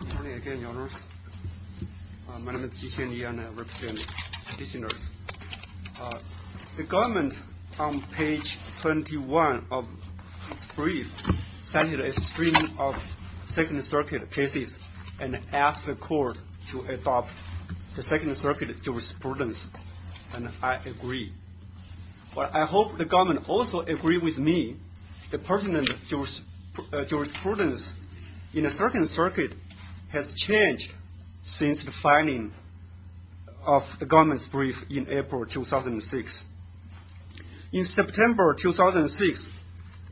Good morning again, Your Honors. My name is Ji-Hsuan Ye and I represent the petitioners. The government on page 21 of its brief sent a string of Second Circuit cases and asked the court to adopt the Second Circuit jurisprudence, and I agree. But I hope the government also agrees with me that pertinent jurisprudence in the Second Circuit has changed since the filing of the government's brief in April 2006. In September 2006,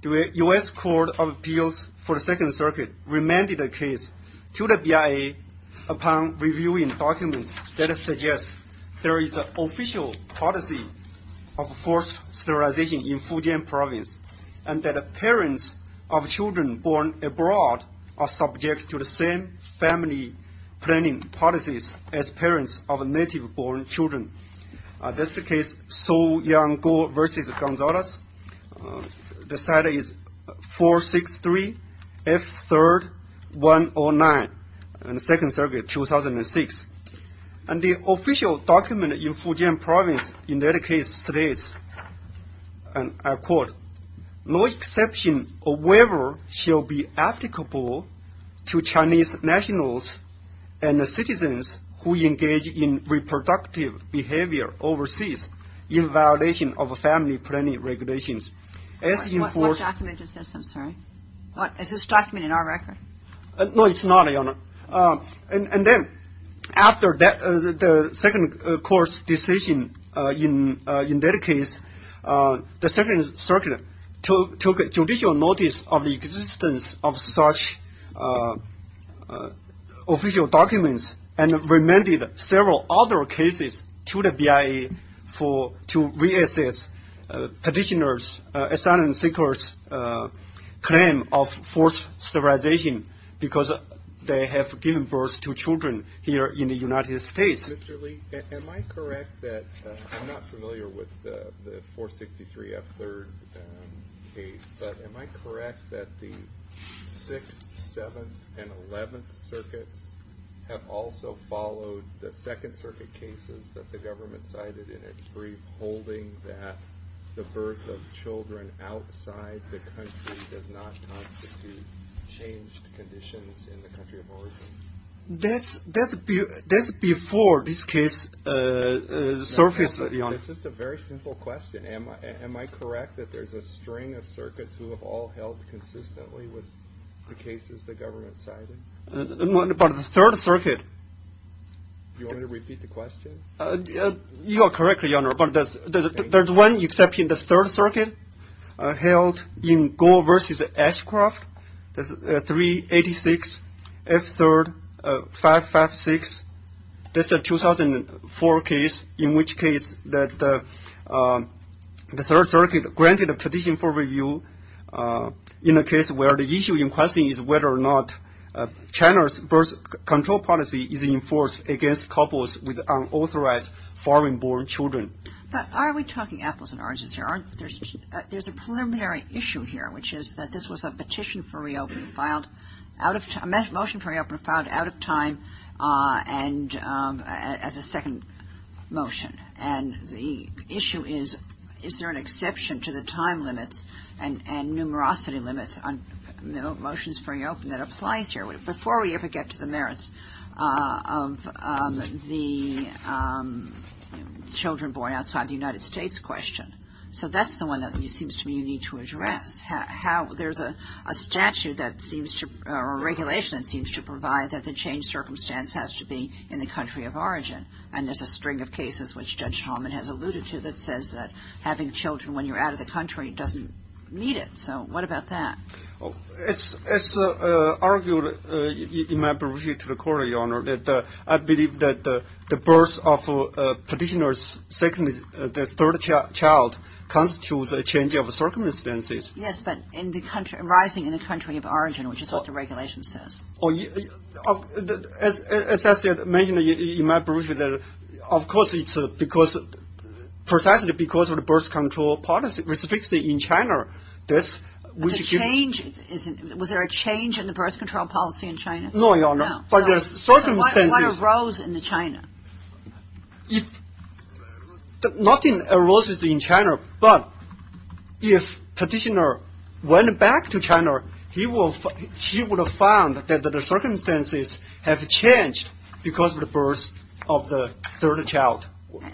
the U.S. Court of Justice, upon reviewing documents that suggest there is an official policy of forced sterilization in Fujian province, and that parents of children born abroad are subject to the same family planning policies as parents of native-born children. That's the case of Su Yang Guo v. 2006. And the official document in Fujian province, in that case, states, and I quote, no exception or waiver shall be applicable to Chinese nationals and citizens who engage in reproductive behavior overseas in violation of family planning regulations. What document is this? I'm sorry. Is this document in our record? No, it's not, Your Honor. And then, after the second court's decision in that case, the Second Circuit took judicial notice of the existence of such official documents and remanded several other cases to the BIA to reassess petitioners' asylum seekers' claim of forced sterilization because they have given birth to children here in the United States. Mr. Li, am I correct that, I'm not familiar with the 463F3rd case, but am I correct that the 6th, 7th, and 11th circuits have also followed the Second Circuit cases that the government cited in it, holding that the birth of children outside the country does not constitute changed conditions in the country of origin? That's before this case surfaced, Your Honor. It's just a very simple question. Am I correct that there's a string of circuits who have all held consistently with the cases the government cited? But the Third Circuit... Do you want me to repeat the question? You are correct, Your Honor, but there's one exception, the Third Circuit, held in Gore v. Ashcroft, 386F3rd 556. That's a 2004 case, in which case the Third Circuit granted a tradition for review in a case where the issue in question is whether or not China's control policy is enforced against couples with unauthorized foreign-born children. But are we talking apples and oranges here? There's a preliminary issue here, which is that this was a petition for reopening, a motion for reopening filed out of time and as a second motion. And the issue is, is there an exception to the time limits and numerosity limits on the merits of the children born outside the United States question? So that's the one that seems to me you need to address. There's a statute that seems to, or a regulation that seems to provide that the changed circumstance has to be in the country of origin. And there's a string of cases, which Judge Talman has alluded to, that says that having children when you're out of the country doesn't meet it. So what about that? It's argued in my brief to the Court, Your Honor, that I believe that the birth of a petitioner's second, the third child constitutes a change of circumstances. Yes, but in the country, arising in the country of origin, which is what the regulation says. As I said, mainly in my brief, of course it's because, precisely because of the birth control policy, which is fixed in China. Was there a change in the birth control policy in China? No, Your Honor. So what arose in China? Nothing arose in China, but if petitioner went back to China, he would have found that the circumstances have changed because of the birth of the third child. Well,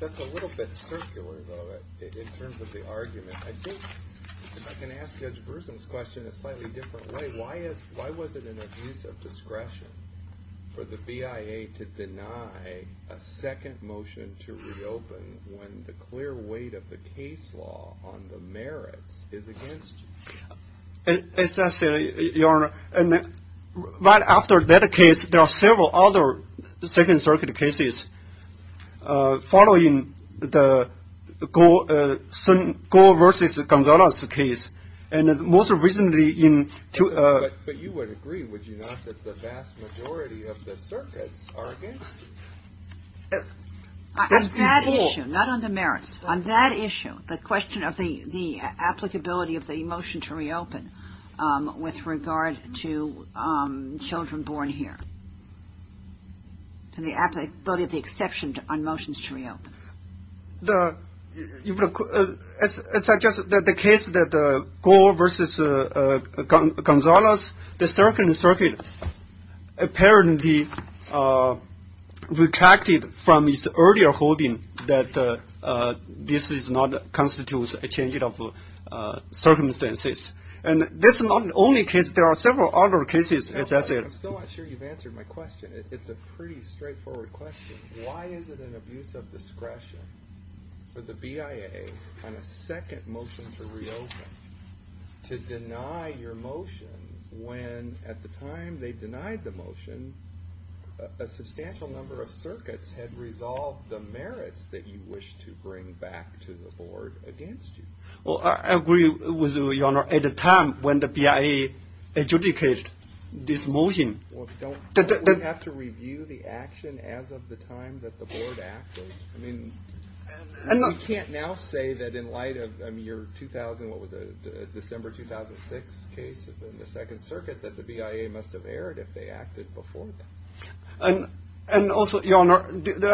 that's a little bit circular, though, in terms of the argument. I think if I can ask Judge Brewson's question in a slightly different way, why was it an abuse of discretion for the BIA to deny a second motion to reopen when the clear weight of the case law on the merits is against you? As I said, Your Honor, right after that case, there are several other Second Circuit cases following the Goh versus Gonzalez case, and most recently in... But you would agree, would you not, that the vast majority of the circuits are against you? Not on the merits. On that issue, the question of the applicability of the motion to reopen with regard to children born here. To the applicability of the exception on motions to reopen. As I just said, the case that the Goh versus Gonzalez, the Second Circuit apparently retracted from its earlier holding that this does not constitute a change of circumstances. And that's not the only case. There are several other cases, as I said. I'm still not sure you've answered my question. It's a pretty straightforward question. Why is it an abuse of discretion for the BIA on a second motion to reopen to deny your motion when at the time they denied the motion, a substantial number of circuits had resolved the merits that you wish to bring back to the board against you? Well, I agree with you, Your Honor, at the time when the BIA adjudicated this motion. Well, don't we have to review the action as of the time that the board acted? I mean, we can't now say that in light of your 2000, what was it, December 2006 case in the Second Circuit that the BIA must have erred if they acted before that. And also, Your Honor,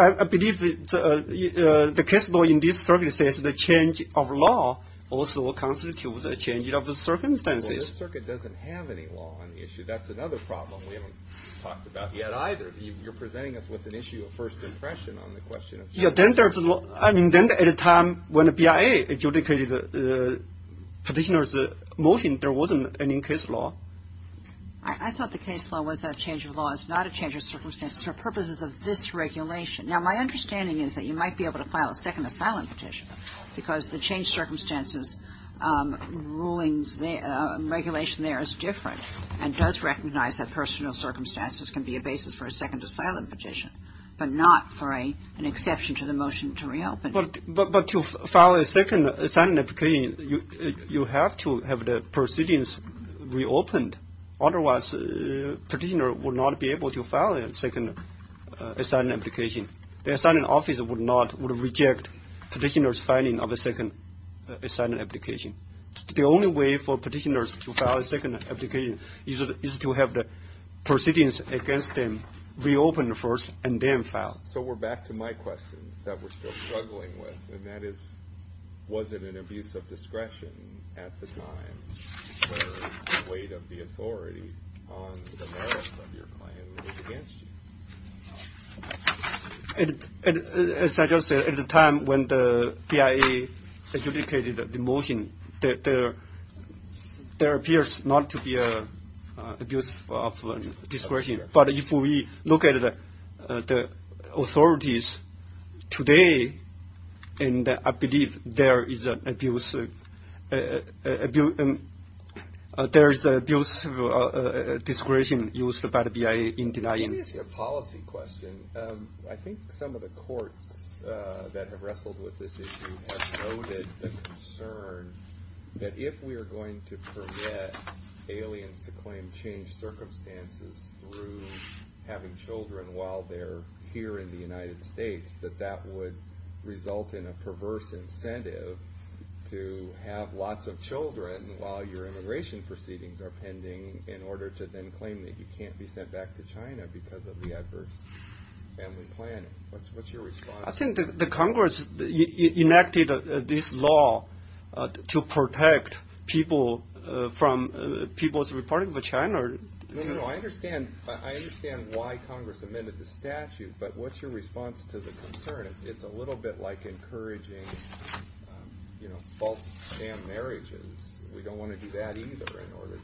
I believe the case law in this circuit says the change of law also constitutes a change of circumstances. Well, this circuit doesn't have any law on the issue. That's another problem we haven't talked about yet either. You're presenting us with an issue of first impression on the question. Yeah, then there's a law. I mean, then at a time when the BIA adjudicated the petitioner's motion, there wasn't any case law. I thought the case law was that change of law is not a change of circumstances for purposes of this regulation. Now, my understanding is that you might be able to file a second asylum petition because the change circumstances rulings, regulation there is different and does recognize that personal circumstances can be a basis for a second asylum petition, but not for an exception to the motion to reopen. But to file a second asylum application, you have to have the proceedings reopened. Otherwise, the petitioner will not be able to file a second asylum application. The asylum office would not, would reject petitioner's filing of a second asylum application. The only way for petitioners to file a second application is to have the proceedings against them reopened first and then filed. So we're back to my question that we're still struggling with, and that is, was it an abuse of discretion at the time where the weight of the authority on the merits of your claim was against you? As I just said, at the time when the BIA adjudicated the motion, there appears not to be abuse of discretion. But if we look at the authorities today, and I believe there is abuse of discretion used by the BIA in denying... Let me ask you a policy question. I think some of the courts that have wrestled with this issue have noted the concern that if we are going to permit aliens to claim changed circumstances through having children while they're here in the United States, that that would result in a perverse incentive to have lots of children while your immigration proceedings are pending in order to then claim that you can't be sent back to China because of the adverse family planning. What's your response? I think the Congress enacted this law to protect people from people's reporting of China. I understand why Congress amended the statute, but what's your response to the concern? It's a little bit like encouraging false sham marriages. We don't want to do that either in order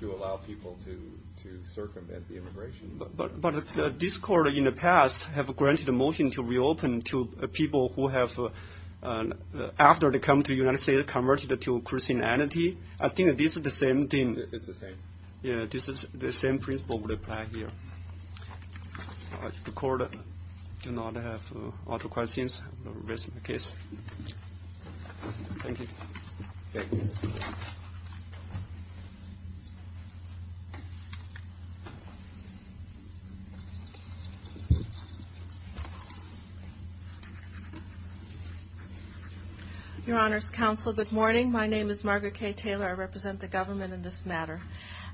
to allow people to circumvent the immigration law. But this court in the past has granted a motion to reopen to people who have, after they come to the United States, converted to Christianity. I think this is the same thing. It's the same. Yeah, this is the same principle would apply here. The court does not have other questions. I'll raise my case. Thank you. Your Honor's Counsel, good morning. My name is Margaret K. Taylor. I represent the government in this matter.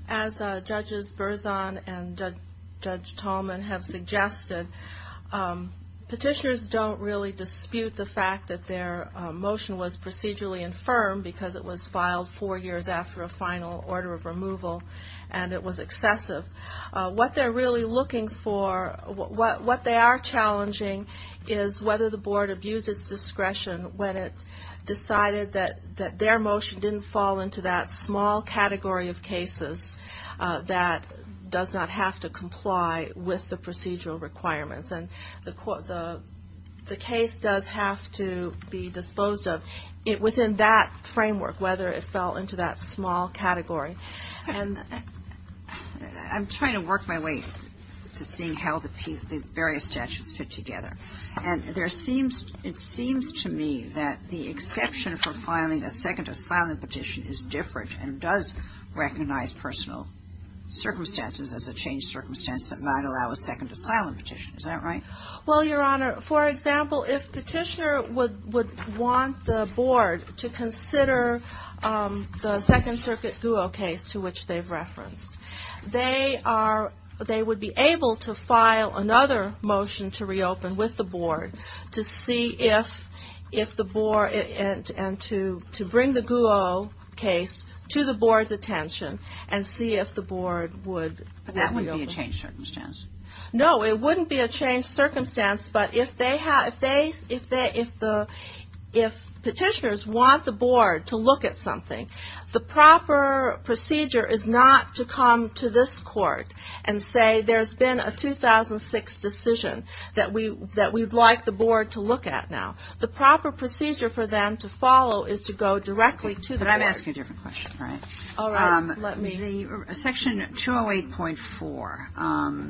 As Judges Berzon and Judge Tallman have suggested, petitioners don't really dispute the fact that their motion was procedurally infirmed because it was filed four years after a final order of removal, and it was excessive. What they're really looking for, what they are challenging, is whether the Board abused its discretion when it decided that their motion didn't fall into that small category of cases that does not have to comply with the procedural requirements. And the case does have to be disposed of within that framework, whether it fell into that small category. And I'm trying to work my way to seeing how the various statutes fit together. And it seems to me that the exception for filing a second asylum petition is different and does recognize personal circumstances as a changed circumstance that might allow a second asylum petition. Is that right? Well, Your Honor, for example, if Petitioner would want the Board to consider the Second Circuit Guo case to which they've referenced, they would be able to file another motion to reopen with the Board to see if the Board, and to bring the Guo case to the Board's attention and see if the Board would reopen. But that wouldn't be a changed circumstance? No, it wouldn't be a changed circumstance, but if petitioners want the Board to look at something, the proper procedure is not to come to this Court and say there's been a 2006 decision that we'd like the Board to look at now. The proper procedure for them to follow is to go directly to the Board. But I'm asking a different question, right? All right. Let me. The Section 208.4,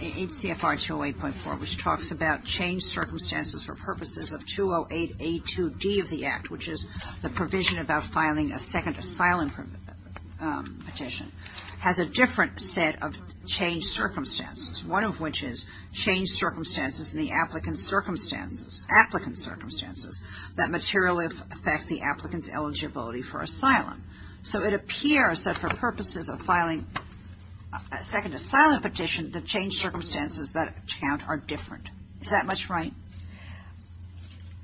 H.C.F.R. 208.4, which talks about changed circumstances for purposes of 208.A.2.D. of the Act, which is the provision about filing a second asylum petition, has a different set of changed circumstances, one of which is changed circumstances in the applicant's circumstances that materially affect the applicant's eligibility for asylum. So it appears that for purposes of filing a second asylum petition, the changed circumstances that count are different. Is that much right?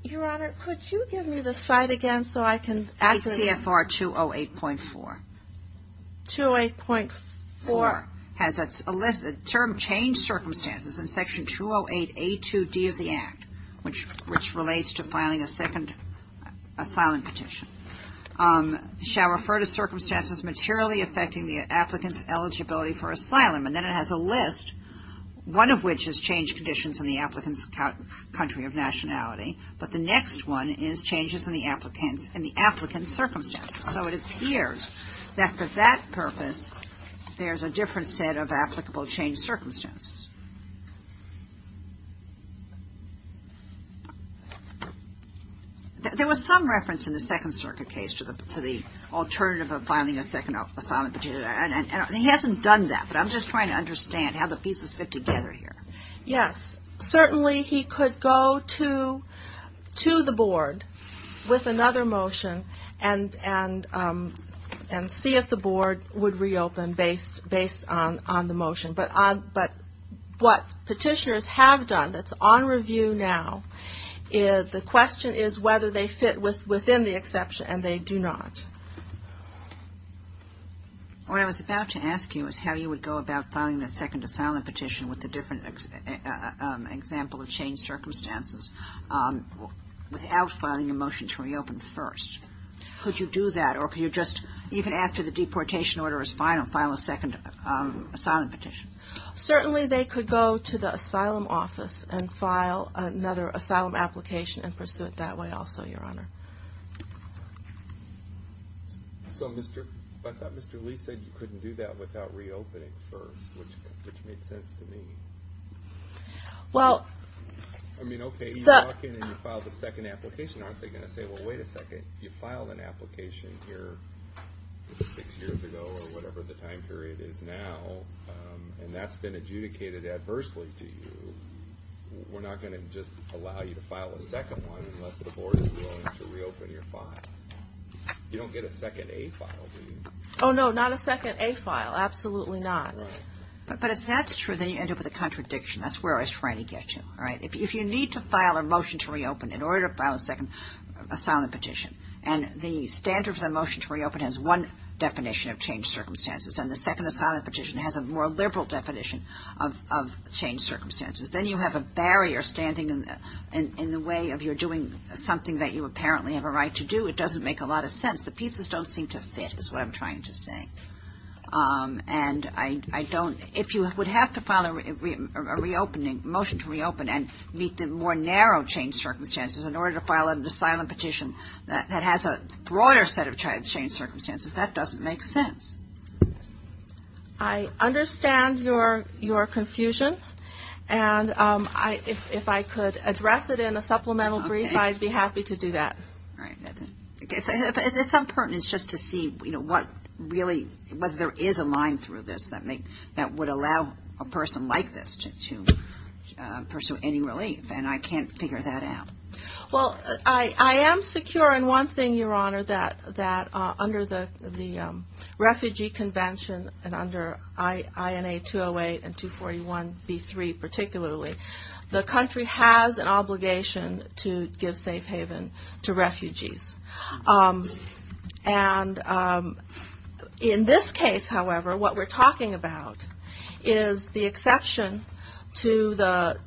Your Honor, could you give me the site again so I can? H.C.F.R. 208.4. 208.4. Has a list of termed changed circumstances in Section 208.A.2.D. of the Act, which relates to filing a second asylum petition, shall refer to circumstances materially affecting the applicant's eligibility for asylum. And then it has a list, one of which is changed conditions in the applicant's country of nationality. But the next one is changes in the applicant's circumstances. So it appears that for that purpose, there's a different set of applicable changed circumstances. There was some reference in the Second Circuit case to the alternative of filing a second asylum petition, and he hasn't done that, but I'm just trying to understand how the pieces fit together here. Yes. Certainly he could go to the Board with another motion and see if the Board would reopen based on the motion. But what petitioners have done that's on review now, the question is whether they fit within the exception, and they do not. What I was about to ask you is how you would go about filing a second asylum petition with the different example of changed circumstances without filing a motion to reopen first. Could you do that, or could you just, even after the deportation order is final, file a second asylum petition? Certainly they could go to the asylum office and file another asylum application and pursue it that way also, Your Honor. So I thought Mr. Lee said you couldn't do that without reopening first, which made a lot of sense to me. I mean, okay, you walk in and you file the second application, aren't they going to say, well, wait a second, you filed an application here six years ago, or whatever the time period is now, and that's been adjudicated adversely to you, we're not going to just allow you to file a second one unless the Board is willing to reopen your file. You don't get a second A file, do you? Oh, no, not a second A file, absolutely not. But if that's true, then you end up with a contradiction. That's where I was trying to get to, all right? If you need to file a motion to reopen in order to file a second asylum petition, and the standard for the motion to reopen has one definition of changed circumstances, and the second asylum petition has a more liberal definition of changed circumstances, then you have a barrier standing in the way of you're doing something that you apparently have a right to do. It doesn't make a lot of sense. The pieces don't seem to fit, is what I'm trying to say. And I don't, if you would have to file a reopening, motion to reopen, and meet the more narrow changed circumstances in order to file an asylum petition that has a broader set of changed circumstances, that doesn't make sense. I understand your confusion, and if I could address it in a supplemental brief, I'd be happy to do that. All right. At some point, it's just to see, you know, what really, whether there is a line through this that would allow a person like this to pursue any relief, and I can't figure that out. Well, I am secure in one thing, Your Honor, that under the Refugee Convention, and under INA 208 and 241b3 particularly, the country has an obligation to give safe haven to refugees. And in this case, however, what we're talking about is the exception to the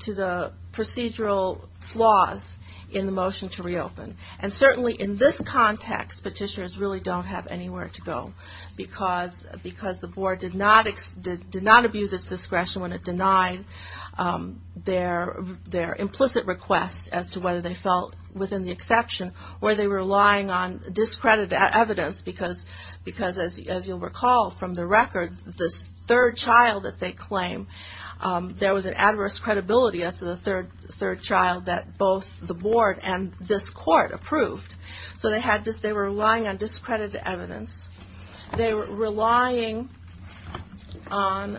procedural flaws in the motion to reopen. And certainly in this context, petitioners really don't have anywhere to go, because the board did not abuse its discretion when the exception, where they were relying on discredited evidence, because as you'll recall from the record, this third child that they claim, there was an adverse credibility as to the third child that both the board and this court approved. So they were relying on discredited evidence. They were relying on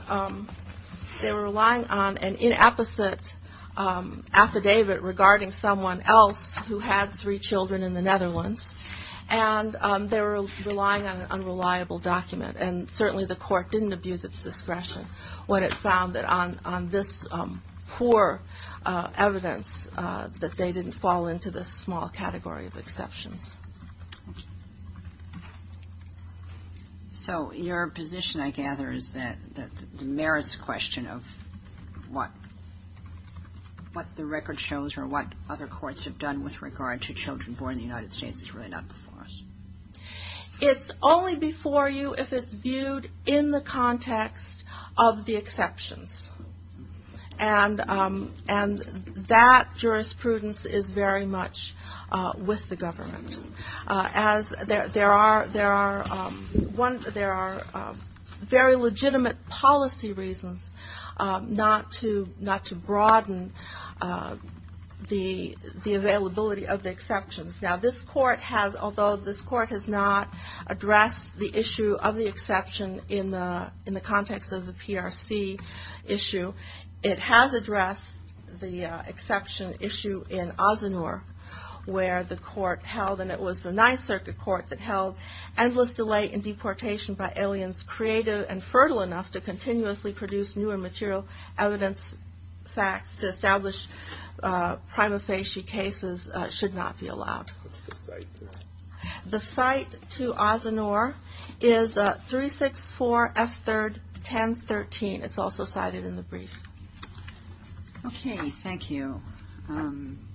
an inapposite affidavit regarding someone else who had three children in the Netherlands, and they were relying on an unreliable document. And certainly the court didn't abuse its discretion when it found that on this poor evidence that they didn't fall into this small category of exceptions. So your position, I gather, is that the merits question of what the record shows or what other courts have done with regard to children born in the United States is really not before us. It's only before you if it's viewed in the context of the exceptions. And that jurisprudence is very much with the government. There are very legitimate policy reasons not to broaden the availability of the exceptions. Now this court has, although this court has not addressed the issue of the exception in the context of the PRC issue, it has addressed the exception issue in Azanur where the court held, and it was the 9th Circuit Court that held, endless delay in deportation by aliens creative and fertile enough to continuously produce new and material evidence facts to establish prima facie cases should not be allowed. The cite to Azanur is 364F31013. It's also cited in the brief. Okay. Thank you.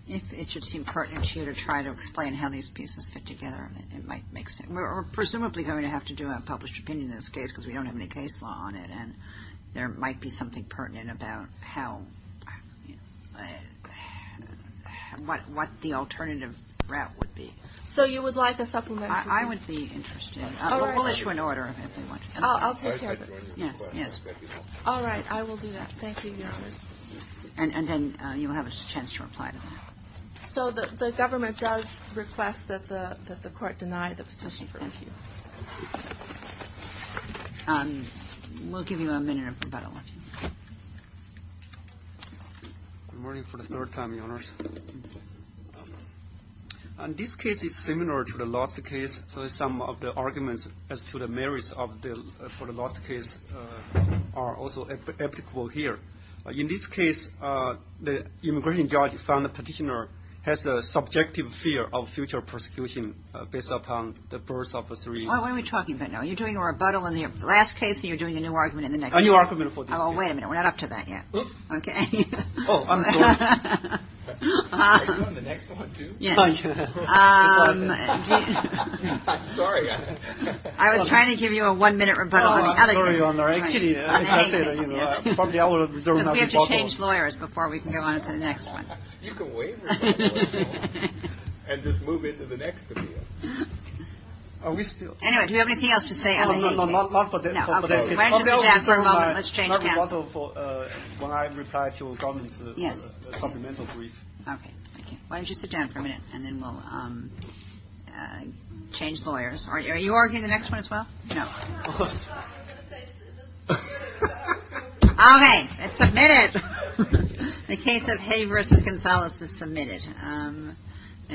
If it should seem pertinent to you to try to explain how these pieces fit together, it might make sense. We're presumably going to have to do a published opinion in this case because we don't have any case law on it. And there might be something pertinent about how, what the alternative route would be. So you would like a supplementary? I would be interested. We'll issue an order if you want to. I'll take care of it. Yes. Yes. All right. I will do that. Thank you. And then you'll have a chance to reply to that. So the government does request that the court deny the petition. Thank you. We'll give you a minute. Good morning for the third time, Your Honors. On this case, it's similar to the last case. So some of the arguments as to the merits for the last case are also applicable here. In this case, the immigration judge found the petitioner has a subjective fear of future prosecution based upon the birth of a three-year-old. What are we talking about now? Are you doing a rebuttal on the last case, or are you doing a new argument in the next case? A new argument for this case. Oh, wait a minute. We're not up to that yet. Oh, I'm sorry. Are you on the next one too? Yes. I'm sorry. I was trying to give you a one-minute rebuttal on the other case. Oh, I'm sorry, Your Honor. Actually, let me just say that, you know, probably I will reserve another rebuttal. Because we have to change lawyers before we can go on to the next one. You can waive rebuttals. And just move into the next opinion. Anyway, do we have anything else to say on the age case? No, no, no. Not for that. No. Okay. Why don't you sit down for a moment? Let's change counsel. Not rebuttal for when I reply to a government's supplemental brief. Okay. Thank you. Why don't you sit down for a minute, and then we'll change lawyers. Are you arguing the next one as well? No. Okay. It's submitted. The case of Hay versus Gonzalez is submitted.